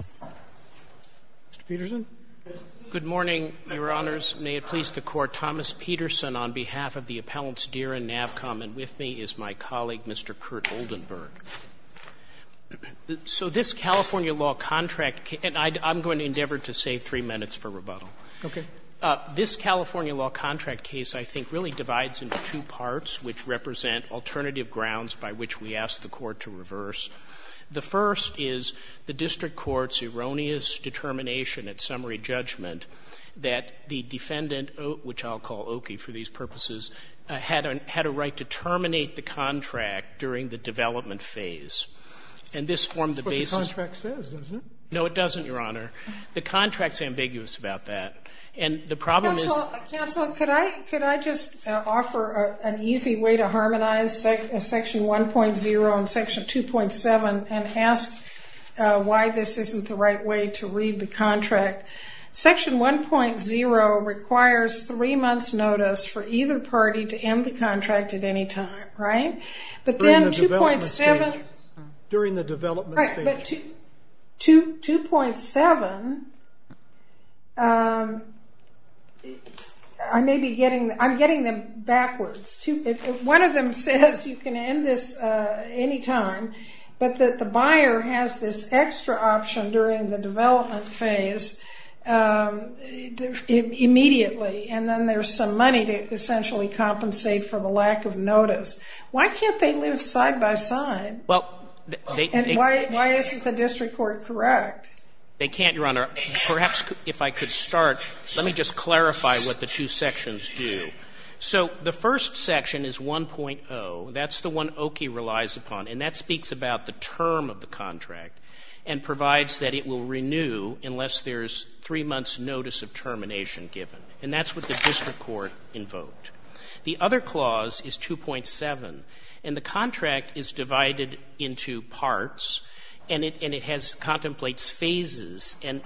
Mr. Peterson. Good morning, Your Honors. May it please the Court, Thomas Peterson on behalf of the Appellants Deere and NAVCOM and with me is my colleague, Mr. Kurt Oldenburg. So this California law contract case, and I'm going to endeavor to save three minutes for rebuttal. Okay. This California law contract case, I think, really divides into two parts which represent alternative grounds by which we ask the Court to reverse. The first is the district court's erroneous determination at summary judgment that the defendant, which I'll call Oki for these purposes, had a right to terminate the contract during the development phase. And this formed the basis. That's what the contract says, doesn't it? No, it doesn't, Your Honor. The contract's ambiguous about that. And the problem is — Well, counsel, could I just offer an easy way to harmonize Section 1.0 and Section 2.7 and ask why this isn't the right way to read the contract? Section 1.0 requires three months' notice for either party to end the contract at any time. Right? During the development stage. Right. But 2.7, I may be getting — I'm getting them backwards. One of them says you can end this any time, but that the buyer has this extra option during the development phase immediately, and then there's some money to essentially compensate for the lack of notice. Why can't they live side by side? Well, they — And why isn't the district court correct? They can't, Your Honor. Perhaps if I could start, let me just clarify what the two sections do. So the first section is 1.0. That's the one Oki relies upon, and that speaks about the term of the contract and provides that it will renew unless there's three months' notice of termination given. And that's what the district court invoked. The other clause is 2.7, and the contract is divided into parts, and it has — contemplates phases. And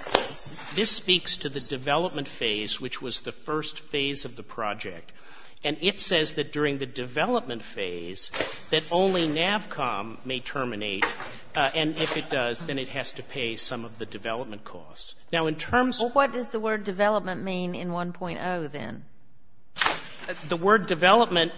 this speaks to the development phase, which was the first phase of the project. And it says that during the development phase that only NAVCOM may terminate, and if it does, then it has to pay some of the development costs. Now in terms of — What does development mean in 1.0, then? The word development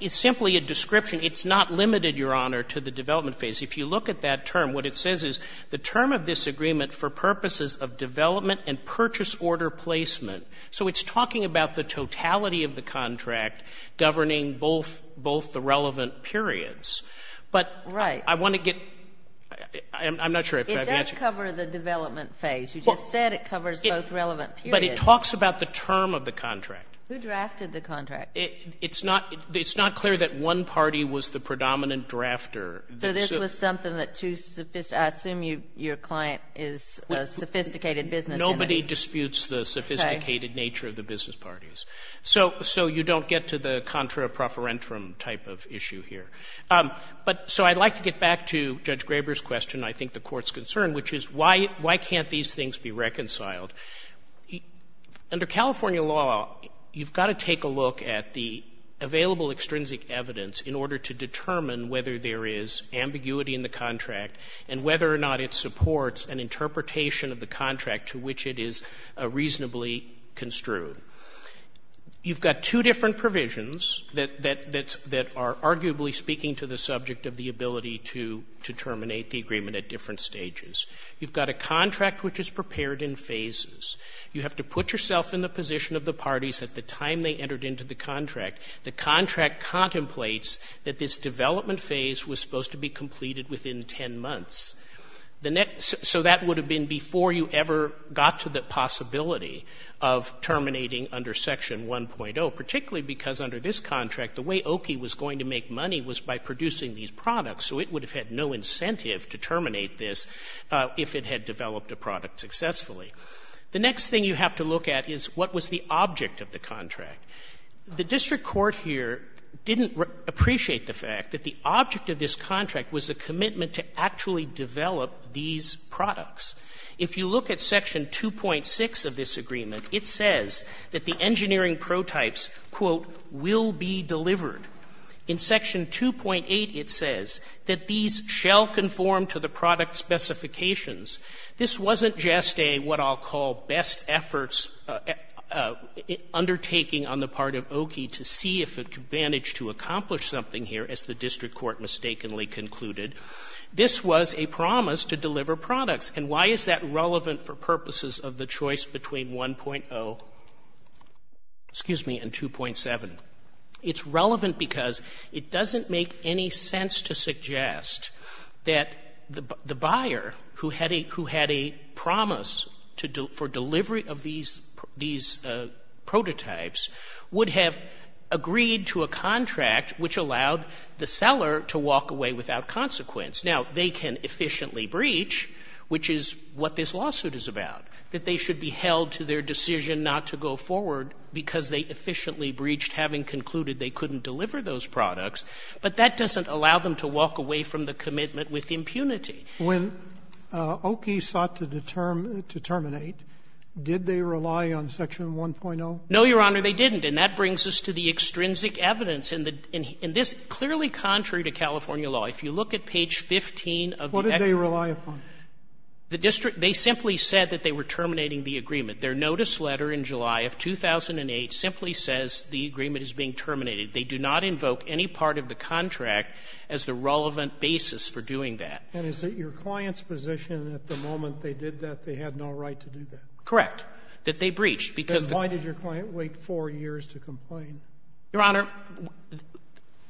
is simply a description. It's not limited, Your Honor, to the development phase. If you look at that term, what it says is the term of this agreement for purposes of development and purchase order placement. So it's talking about the totality of the contract governing both the relevant periods. But I want to get — I'm not sure if I've answered — It does cover the development phase. You just said it covers both relevant periods. But it talks about the term of the contract. Who drafted the contract? It's not — it's not clear that one party was the predominant drafter. So this was something that too — I assume your client is a sophisticated business entity. Nobody disputes the sophisticated nature of the business parties. So you don't get to the contra profferentum type of issue here. But so I'd like to get back to Judge Graber's question, I think the Court's concern, which is why can't these things be reconciled. Under California law, you've got to take a look at the available extrinsic evidence in order to determine whether there is ambiguity in the contract and whether or not it supports an interpretation of the contract to which it is reasonably construed. You've got two different provisions that are arguably speaking to the subject of the ability to terminate the agreement at different stages. You've got a contract which is prepared in phases. You have to put yourself in the position of the parties at the time they entered into the contract. The contract contemplates that this development phase was supposed to be completed within 10 months. So that would have been before you ever got to the possibility of terminating under Section 1.0, particularly because under this contract, the way Oki was going to make money was by saying it would have had no incentive to terminate this if it had developed a product successfully. The next thing you have to look at is what was the object of the contract. The district court here didn't appreciate the fact that the object of this contract was a commitment to actually develop these products. If you look at Section 2.6 of this agreement, it says that the engineering protypes, quote, will be delivered. In Section 2.8, it says that these shall conform to the product specifications. This wasn't just a what I'll call best efforts undertaking on the part of Oki to see if it could manage to accomplish something here, as the district court mistakenly concluded. This was a promise to deliver products. And why is that relevant for purposes of the choice between 1.0, excuse me, and 2.7? It's relevant because it doesn't make any sense to suggest that the buyer who had a promise for delivery of these prototypes would have agreed to a contract which allowed the seller to walk away without consequence. Now, they can efficiently breach, which is what this lawsuit is about, that they should be held to their decision not to go forward because they efficiently breached, having concluded they couldn't deliver those products. But that doesn't allow them to walk away from the commitment with impunity. When Oki sought to determine to terminate, did they rely on Section 1.0? No, Your Honor, they didn't. And that brings us to the extrinsic evidence in this clearly contrary to California law. If you look at page 15 of the extract. What did they rely upon? The district, they simply said that they were terminating the agreement. Their notice letter in July of 2008 simply says the agreement is being terminated. They do not invoke any part of the contract as the relevant basis for doing that. And is it your client's position that the moment they did that, they had no right to do that? Correct, that they breached. Because why did your client wait four years to complain? Your Honor,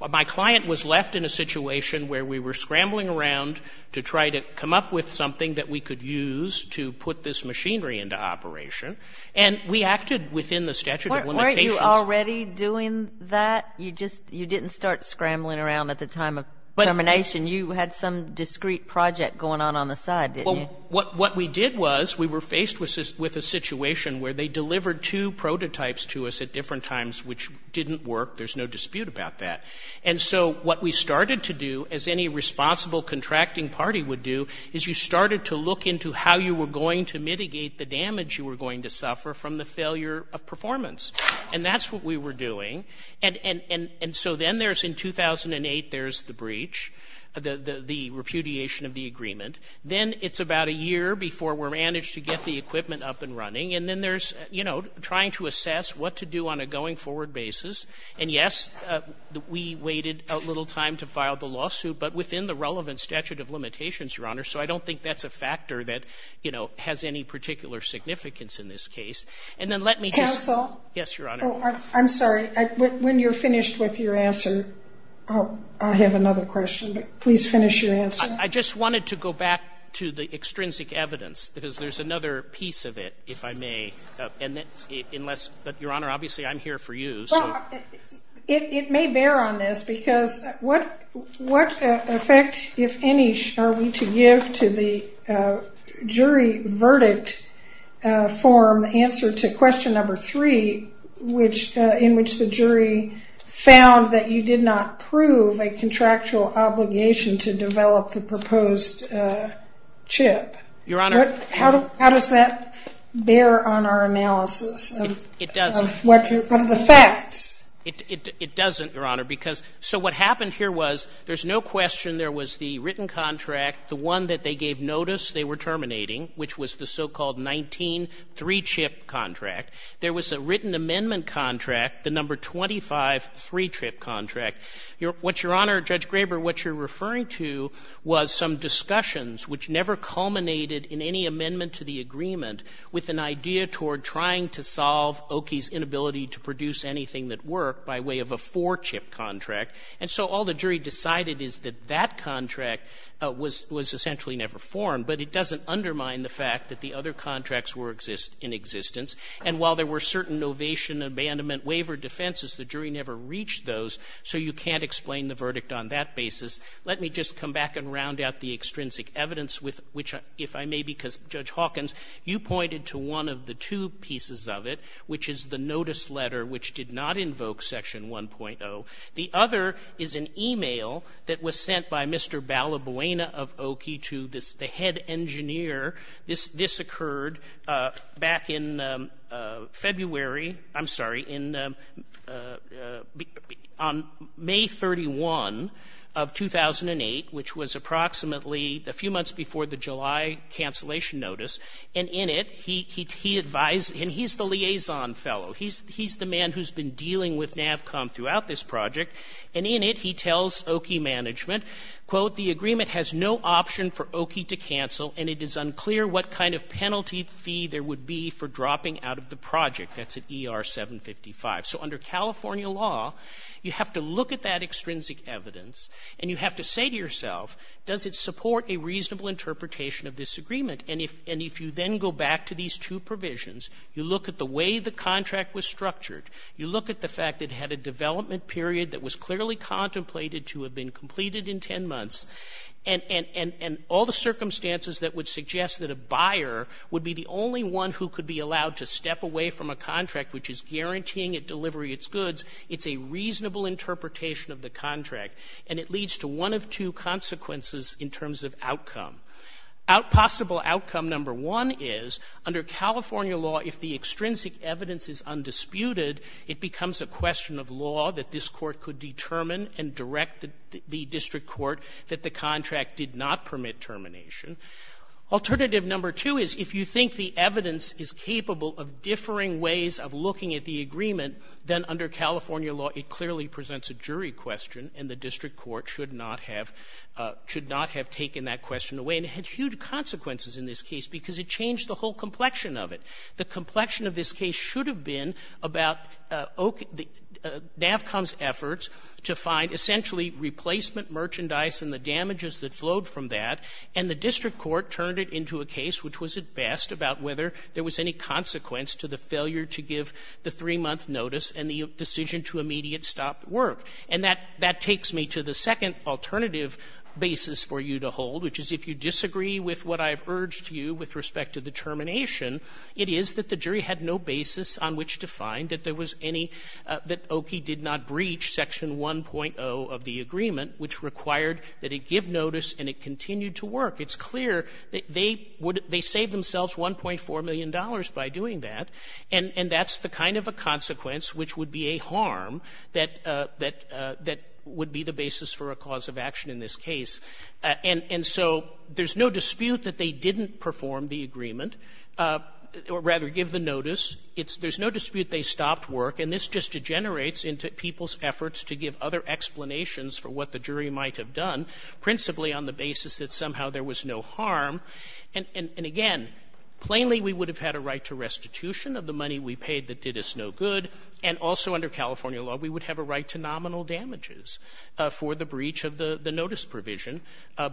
my client was left in a situation where we were scrambling around to try to come up with something that we could use to put this machinery into operation. And we acted within the statute of limitations. Weren't you already doing that? You just, you didn't start scrambling around at the time of termination. You had some discrete project going on on the side, didn't you? What we did was we were faced with a situation where they delivered two prototypes to us at different times, which didn't work. There's no dispute about that. And so what we started to do, as any responsible contracting party would do, is you started to look into how you were going to mitigate the damage you were going to suffer from the failure of performance. And that's what we were doing. And so then there's, in 2008, there's the breach, the repudiation of the agreement. Then it's about a year before we're managed to get the equipment up and running. And then there's, you know, trying to assess what to do on a going forward basis. And yes, we waited a little time to file the lawsuit, but within the relevant statute of limitations, Your Honor. So I don't think that's a factor that, you know, has any particular significance in this case. And then let me just- Counsel? Yes, Your Honor. Oh, I'm sorry. When you're finished with your answer, I have another question. But please finish your answer. I just wanted to go back to the extrinsic evidence, because there's another piece of it, if I may. And unless, but Your Honor, obviously I'm here for you. Well, it may bear on this, because what effect, if any, are we to give to the jury verdict form, the answer to question number three, in which the jury found that you did not prove a contractual obligation to develop the proposed chip? Your Honor- How does that bear on our analysis? It doesn't. What are the facts? It doesn't, Your Honor, because, so what happened here was, there's no question there was the written contract, the one that they gave notice they were terminating, which was the so-called 19 3-chip contract. There was a written amendment contract, the number 25 3-chip contract. What Your Honor, Judge Graber, what you're referring to was some discussions, which never culminated in any amendment to the agreement, with an idea toward trying to solve Okie's inability to produce anything that worked by way of a 4-chip contract. And so all the jury decided is that that contract was essentially never formed. But it doesn't undermine the fact that the other contracts were in existence. And while there were certain novation, abandonment, waiver defenses, the jury never reached those, so you can't explain the verdict on that basis. Let me just come back and round out the extrinsic evidence, which, if I may, because, Judge did not invoke Section 1.0. The other is an e-mail that was sent by Mr. Balabuena of Okie to the head engineer. This occurred back in February, I'm sorry, on May 31 of 2008, which was approximately a few months before the July cancellation notice, and in it he advised, and he's the man who's been dealing with NAVCOM throughout this project, and in it he tells Okie management, quote, the agreement has no option for Okie to cancel, and it is unclear what kind of penalty fee there would be for dropping out of the project. That's at ER 755. So under California law, you have to look at that extrinsic evidence, and you have to say to yourself, does it support a reasonable interpretation of this agreement? And if you then go back to these two provisions, you look at the way the contract was structured, you look at the fact it had a development period that was clearly contemplated to have been completed in ten months, and all the circumstances that would suggest that a buyer would be the only one who could be allowed to step away from a contract which is guaranteeing it delivery of its goods, it's a reasonable interpretation of the contract, and it leads to one of two consequences in terms of outcome. Possible outcome number one is, under California law, if the extrinsic evidence is undisputed, it becomes a question of law that this court could determine and direct the district court that the contract did not permit termination. Alternative number two is, if you think the evidence is capable of differing ways of looking at the agreement, then under California law, it clearly presents a jury question, and the and it had huge consequences in this case, because it changed the whole complexion of it. The complexion of this case should have been about NAVCOM's efforts to find essentially replacement merchandise and the damages that flowed from that, and the district court turned it into a case which was at best about whether there was any consequence to the failure to give the three-month notice and the decision to immediately stop work. And that takes me to the second alternative basis for you to hold, which is, if you disagree with what I've urged you with respect to the termination, it is that the jury had no basis on which to find that there was any — that OKI did not breach Section 1.0 of the agreement, which required that it give notice and it continue to work. It's clear that they saved themselves $1.4 million by doing that, and that's the kind of a consequence which would be a harm that would be the basis for a cause of action in this case. And so there's no dispute that they didn't perform the agreement, or rather give the notice. There's no dispute they stopped work, and this just degenerates into people's efforts to give other explanations for what the jury might have done, principally on the basis that somehow there was no harm. And again, plainly we would have had a right to restitution of the money we paid that did us no good. And also under California law, we would have a right to nominal damages for the breach of the notice provision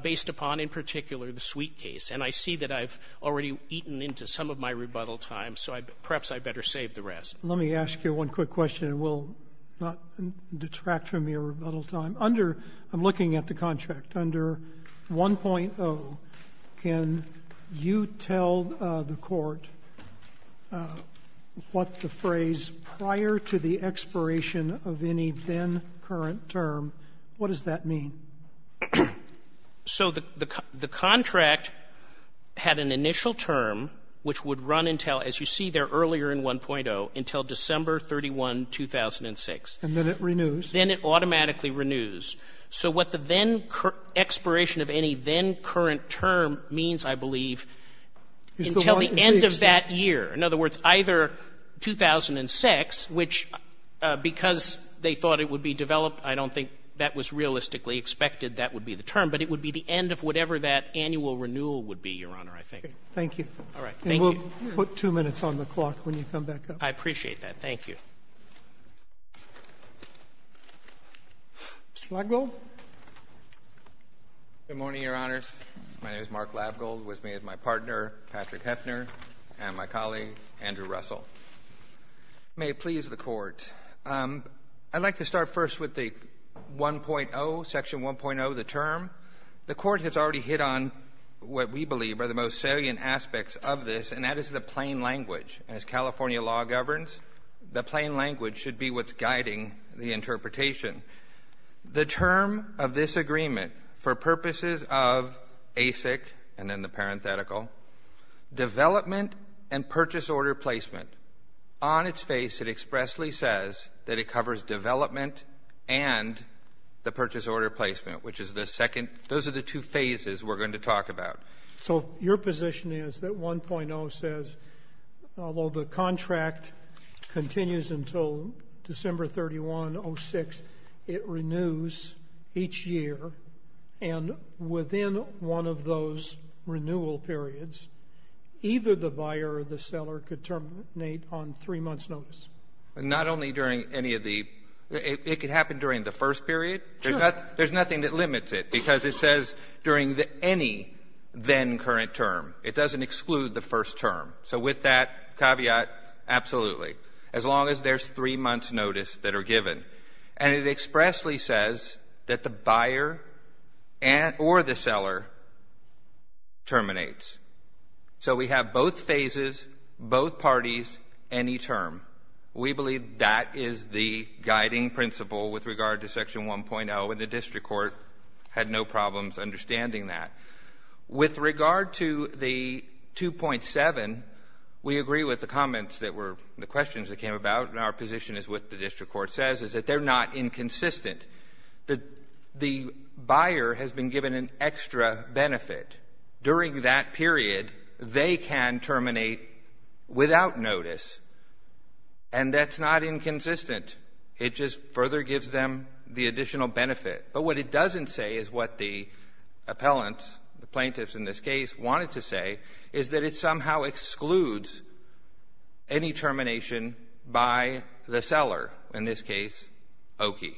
based upon, in particular, the Sweet case. And I see that I've already eaten into some of my rebuttal time, so perhaps I'd better save the rest. Let me ask you one quick question, and we'll not detract from your rebuttal time. Under, I'm looking at the contract, under 1.0, can you tell the Court what the phrase prior to the expiration of any then current term, what does that mean? So the contract had an initial term which would run until, as you see there earlier in 1.0, until December 31, 2006. And then it renews. Then it automatically renews. So what the then expiration of any then current term means, I believe, until the end of that year. In other words, either 2006, which because they thought it would be developed, I don't think that was realistically expected, that would be the term, but it would be the end of whatever that annual renewal would be, Your Honor, I think. Thank you. All right. Thank you. And we'll put two minutes on the clock when you come back up. I appreciate that. Mr. Lavgold? Good morning, Your Honors. My name is Mark Lavgold, with me is my partner, Patrick Heffner, and my colleague, Andrew Russell. May it please the Court, I'd like to start first with the 1.0, Section 1.0, the term. The Court has already hit on what we believe are the most salient aspects of this, and that is the plain language. As California law governs, the plain language should be what's guiding the interpretation. The term of this agreement, for purposes of ASIC, and then the parenthetical, development and purchase order placement, on its face it expressly says that it covers development and the purchase order placement, which is the second, those are the two phases we're going to talk about. So your position is that 1.0 says, although the contract continues until December 31, 06, it renews each year, and within one of those renewal periods, either the buyer or the seller could terminate on three months' notice? Not only during any of the, it could happen during the first period. Sure. There's nothing that limits it, because it says during any then-current term. It doesn't exclude the first term. So with that caveat, absolutely, as long as there's three months' notice that are given. And it expressly says that the buyer or the seller terminates. So we have both phases, both parties, any term. We believe that is the guiding principle with regard to Section 1.0, and the district court had no problems understanding that. With regard to the 2.7, we agree with the comments that were, the questions that came about, and our position is what the district court says, is that they're not inconsistent. The buyer has been given an extra benefit. During that period, they can terminate without notice, and that's not inconsistent. It just further gives them the additional benefit. But what it doesn't say is what the appellants, the plaintiffs in this case, wanted to say is that it somehow excludes any termination by the seller, in this case, Okie.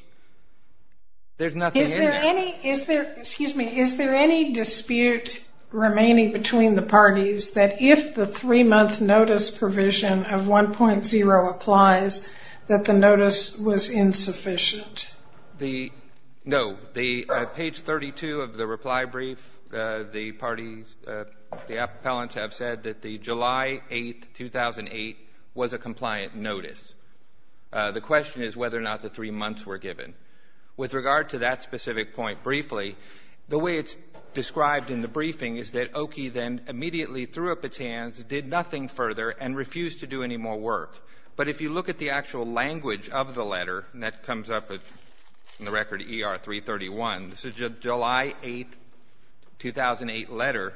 There's nothing in there. Is there, excuse me, is there any dispute remaining between the parties that if the three-month notice provision of 1.0 applies, that the notice was insufficient? The, no, the page 32 of the reply brief, the parties, the appellants have said that the July 8, 2008, was a compliant notice. The question is whether or not the three months were given. With regard to that specific point, briefly, the way it's described in the briefing is that Okie then immediately threw up its hands, did nothing further, and refused to do any more work. But if you look at the actual language of the letter, and that comes up in the record ER 331, this is a July 8, 2008, letter,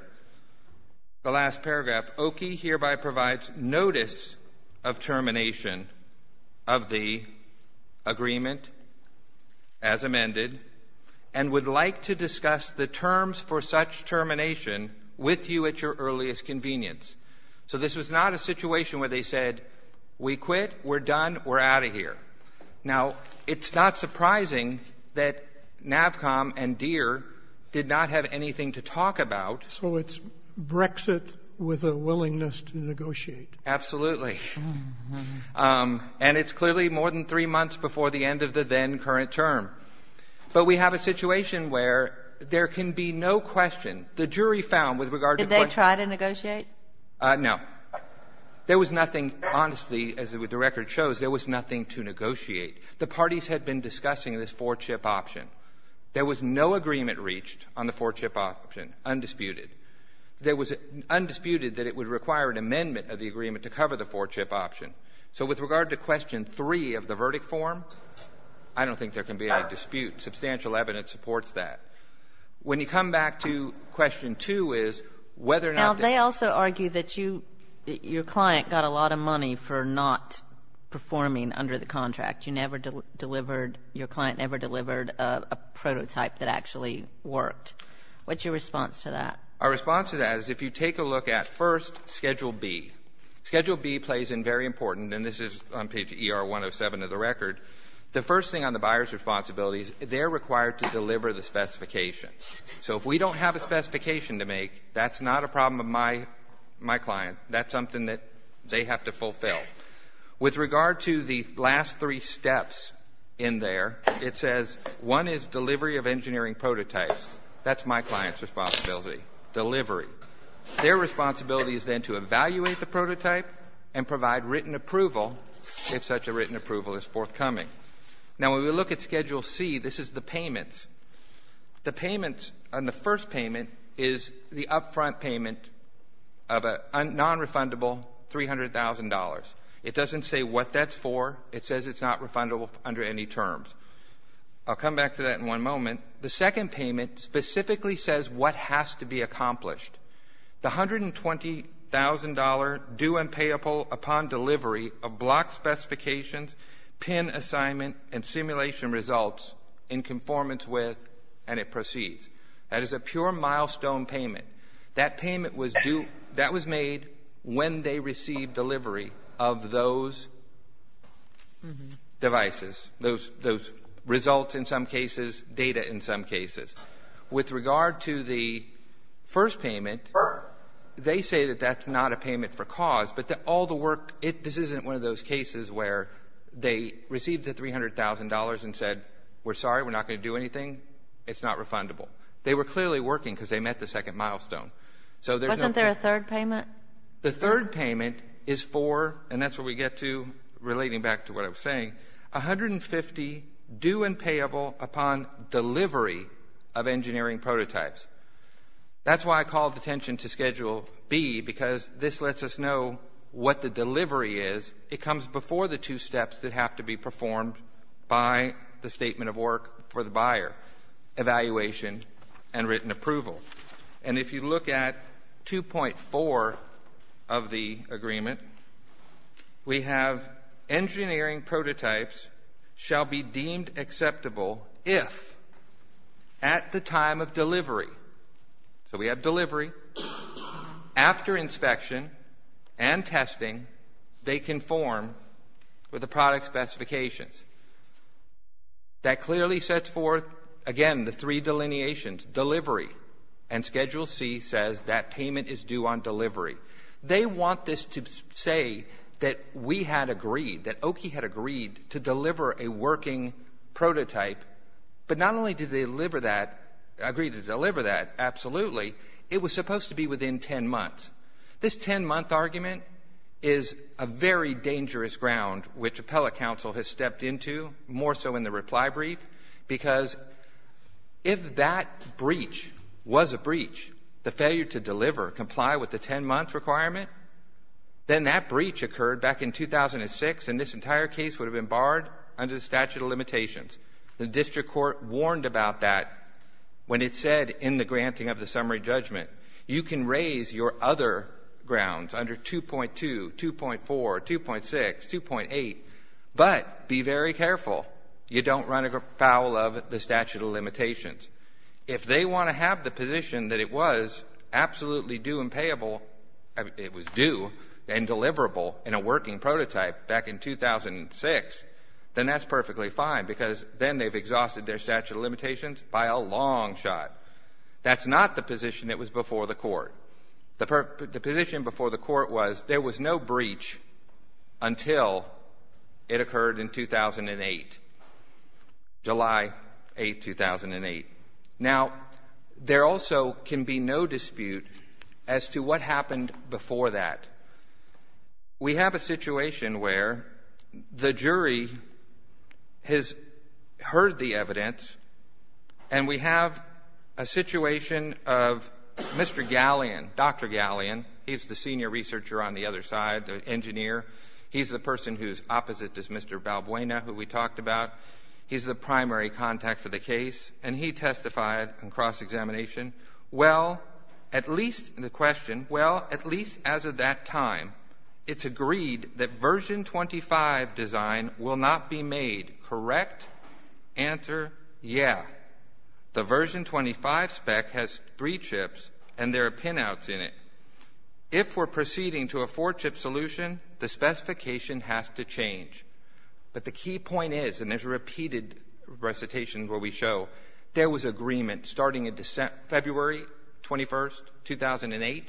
the last paragraph, Okie hereby provides notice of termination of the agreement as amended, and would like to discuss the terms for such termination with you at your earliest convenience. So this was not a situation where they said, we quit, we're done, we're out of here. Now it's not surprising that NAVCOM and Deere did not have anything to talk about. Absolutely. And it's clearly more than three months before the end of the then-current term. But we have a situation where there can be no question. The jury found, with regard to the question of Did they try to negotiate? No. There was nothing, honestly, as the record shows, there was nothing to negotiate. The parties had been discussing this four-chip option. There was no agreement reached on the four-chip option, undisputed. There was undisputed that it would require an amendment of the agreement to cover the four-chip option. So with regard to question three of the verdict form, I don't think there can be any dispute. Substantial evidence supports that. When you come back to question two is whether or not Now, they also argue that you, your client got a lot of money for not performing under the contract. You never delivered, your client never delivered a prototype that actually worked. What's your response to that? Our response to that is if you take a look at, first, schedule B. Schedule B plays in very important, and this is on page ER 107 of the record. The first thing on the buyer's responsibility is they're required to deliver the specifications. So if we don't have a specification to make, that's not a problem of my client. That's something that they have to fulfill. With regard to the last three steps in there, it says one is delivery of engineering prototypes. That's my client's responsibility, delivery. Their responsibility is then to evaluate the prototype and provide written approval if such a written approval is forthcoming. Now when we look at schedule C, this is the payments. The payments on the first payment is the upfront payment of a non-refundable $300,000. It doesn't say what that's for. It says it's not refundable under any terms. I'll come back to that in one moment. The second payment specifically says what has to be accomplished. The $120,000 due and payable upon delivery of block specifications, pin assignment and simulation results in conformance with, and it proceeds. That is a pure milestone payment. That payment was due, that was made when they received delivery of those devices, those in some cases. With regard to the first payment, they say that that's not a payment for cause, but all the work, this isn't one of those cases where they received the $300,000 and said, we're sorry, we're not going to do anything, it's not refundable. They were clearly working because they met the second milestone. So there's no... Wasn't there a third payment? The third payment is for, and that's where we get to relating back to what I was saying, $150,000 due and payable upon delivery of engineering prototypes. That's why I called attention to Schedule B because this lets us know what the delivery is. It comes before the two steps that have to be performed by the statement of work for the buyer, evaluation and written approval. If you look at 2.4 of the agreement, we have engineering prototypes shall be deemed acceptable if at the time of delivery, so we have delivery, after inspection and testing, they conform with the product specifications. That clearly sets forth, again, the three delineations, delivery and Schedule C says that payment is due on delivery. They want this to say that we had agreed, that Oki had agreed to deliver a working prototype, but not only did they deliver that, agree to deliver that, absolutely, it was supposed to be within 10 months. This 10-month argument is a very dangerous ground which appellate counsel has stepped into, more so in the reply brief, because if that breach was a breach, the failure to deliver, comply with the 10-month requirement, then that breach occurred back in 2006 and this entire case would have been barred under the statute of limitations. The district court warned about that when it said in the granting of the summary judgment, you can raise your other grounds under 2.2, 2.4, 2.6, 2.8, but be very careful, you don't run afoul of the statute of limitations. If they want to have the position that it was absolutely due and payable, it was due and deliverable in a working prototype back in 2006, then that's perfectly fine because then they've exhausted their statute of limitations by a long shot. That's not the position that was before the court. The position before the court was there was no breach until it occurred in 2008, July 8, 2008. Now there also can be no dispute as to what happened before that. We have a situation where the jury has heard the evidence and we have a situation of Mr. Galleon, Dr. Galleon, he's the senior researcher on the other side, the engineer. He's the person who's opposite is Mr. Balbuena, who we talked about. He's the primary contact for the case and he testified in cross-examination, well, at least as of that time, it's agreed that version 25 design will not be made, correct? Answer, yeah. The version 25 spec has three chips and there are pinouts in it. If we're proceeding to a four-chip solution, the specification has to change, but the key point is, and there's a repeated recitation where we show, there was agreement starting in February 21st, 2008,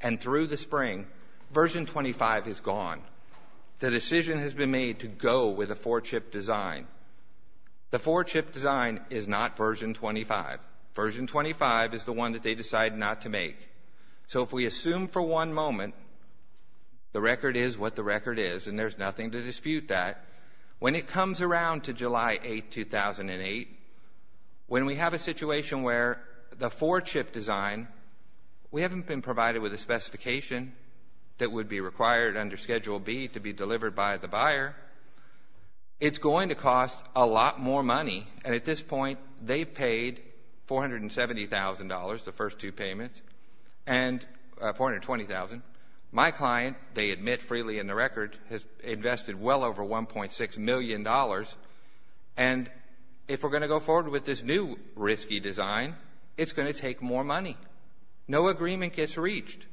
and through the spring, version 25 is gone. The decision has been made to go with a four-chip design. The four-chip design is not version 25. Version 25 is the one that they decided not to make. So if we assume for one moment the record is what the record is and there's nothing to dispute that, when it comes around to July 8th, 2008, when we have a situation where the four-chip design, we haven't been provided with a specification that would be required under Schedule B to be delivered by the buyer, it's going to cost a lot more money and at this point, they've paid $470,000, the first two payments, and $420,000. My client, they admit freely in the record, has invested well over $1.6 million and if we're going to go forward with this new risky design, it's going to take more money. No agreement gets reached.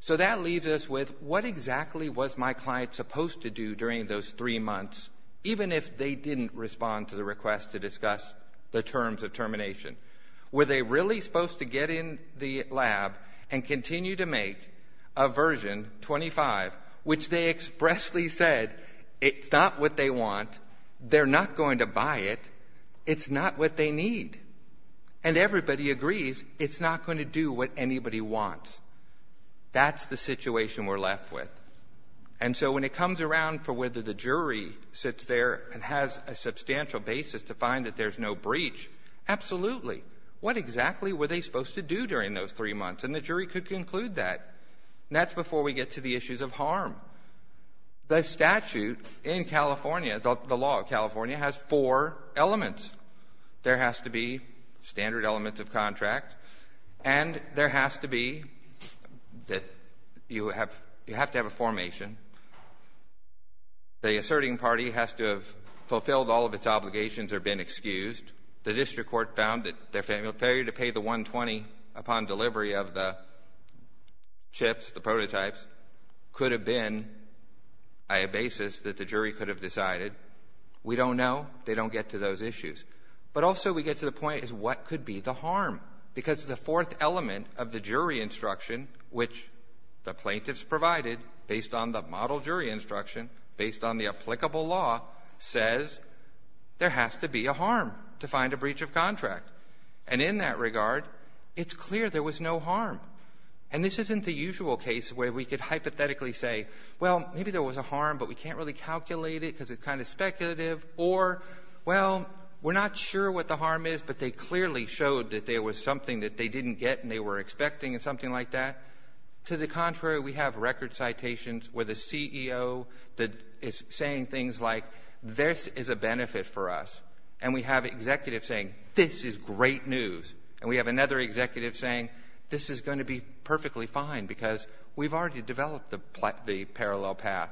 So that leaves us with, what exactly was my client supposed to do during those three months, even if they didn't respond to the request to discuss the terms of termination? Were they really supposed to get in the lab and continue to make a version 25, which they expressly said, it's not what they want, they're not going to buy it, it's not what they need? And everybody agrees, it's not going to do what anybody wants. That's the situation we're left with. And so when it comes around for whether the jury sits there and has a substantial basis to find that there's no breach, absolutely. What exactly were they supposed to do during those three months and the jury could conclude that. And that's before we get to the issues of harm. The statute in California, the law of California, has four elements. There has to be standard elements of contract and there has to be, you have to have a formation. The asserting party has to have fulfilled all of its obligations or been excused. The district court found that their failure to pay the 120 upon delivery of the chips, the prototypes, could have been a basis that the jury could have decided. We don't know. They don't get to those issues. But also we get to the point is what could be the harm? Because the fourth element of the jury instruction, which the plaintiffs provided based on the model jury instruction, based on the applicable law, says there has to be a harm to find a breach of contract. And in that regard, it's clear there was no harm. And this isn't the usual case where we could hypothetically say, well, maybe there was a harm but we can't really calculate it because it's kind of speculative. Or well, we're not sure what the harm is but they clearly showed that there was something that they didn't get and they were expecting and something like that. To the contrary, we have record citations where the CEO is saying things like, this is a benefit for us. And we have executives saying, this is great news. And we have another executive saying, this is going to be perfectly fine because we've already developed the parallel path.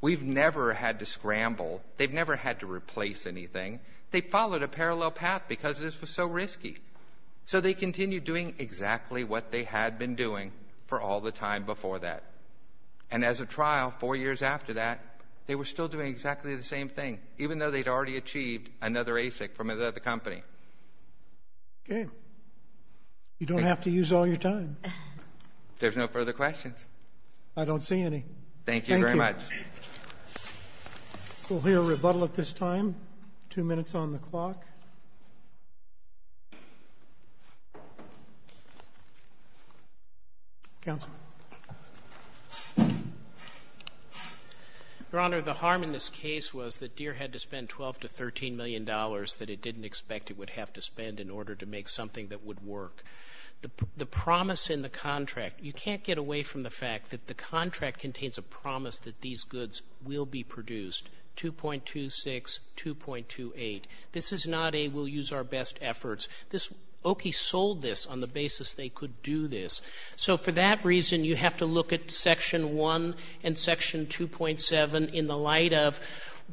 We've never had to scramble. They've never had to replace anything. They followed a parallel path because this was so risky. So they continued doing exactly what they had been doing for all the time before that. And as a trial, four years after that, they were still doing exactly the same thing, even though they'd already achieved another ASIC from another company. Okay. You don't have to use all your time. There's no further questions. I don't see any. Thank you very much. Thank you. We'll hear a rebuttal at this time. Two minutes on the clock. Counsel. Your Honor, the harm in this case was that Deere had to spend $12 to $13 million that it didn't expect it would have to spend in order to make something that would work. The promise in the contract, you can't get away from the fact that the contract contains a promise that these goods will be produced, 2.26, 2.28. This is not a we'll use our best efforts. Okie sold this on the basis they could do this. So for that reason, you have to look at Section 1 and Section 2.7 in the light of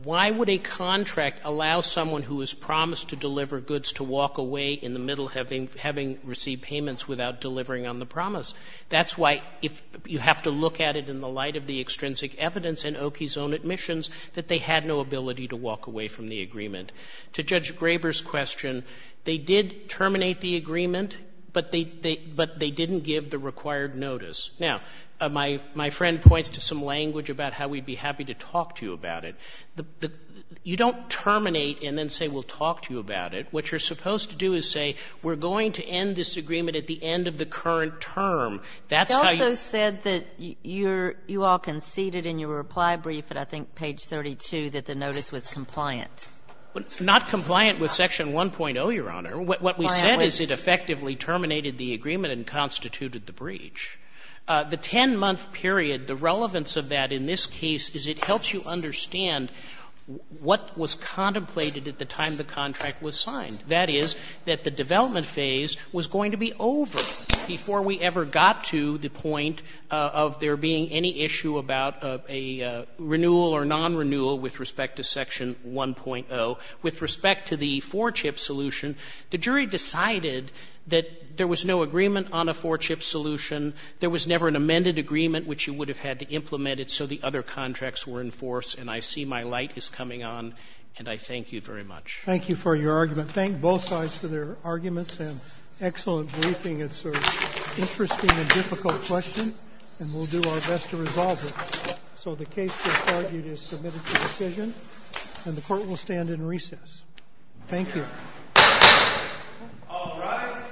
why would a contract allow someone who is promised to deliver goods to walk away in the middle having received payments without delivering on the promise? That's why you have to look at it in the light of the extrinsic evidence in Okie's own admissions that they had no ability to walk away from the agreement. To Judge Graber's question, they did terminate the agreement, but they didn't give the required notice. Now, my friend points to some language about how we'd be happy to talk to you about it. You don't terminate and then say, we'll talk to you about it. What you're supposed to do is say, we're going to end this agreement at the end of the current term. They also said that you all conceded in your reply brief at, I think, page 32 that the notice was compliant. Not compliant with Section 1.0, Your Honor. What we said is it effectively terminated the agreement and constituted the breach. The 10-month period, the relevance of that in this case is it helps you understand what was contemplated at the time the contract was signed. That is, that the development phase was going to be over before we ever got to the point of there being any issue about a renewal or non-renewal with respect to Section 1.0. With respect to the 4-CHIP solution, the jury decided that there was no agreement on a 4-CHIP solution, there was never an amended agreement which you would have had to implement it so the other contracts were in force, and I see my light is coming on, and I thank you very much. Thank you for your argument. Thank both sides for their arguments and excellent briefing. It's an interesting and difficult question, and we'll do our best to resolve it. So the case we've argued is submitted to decision, and the Court will stand in recess. Thank you. All rise.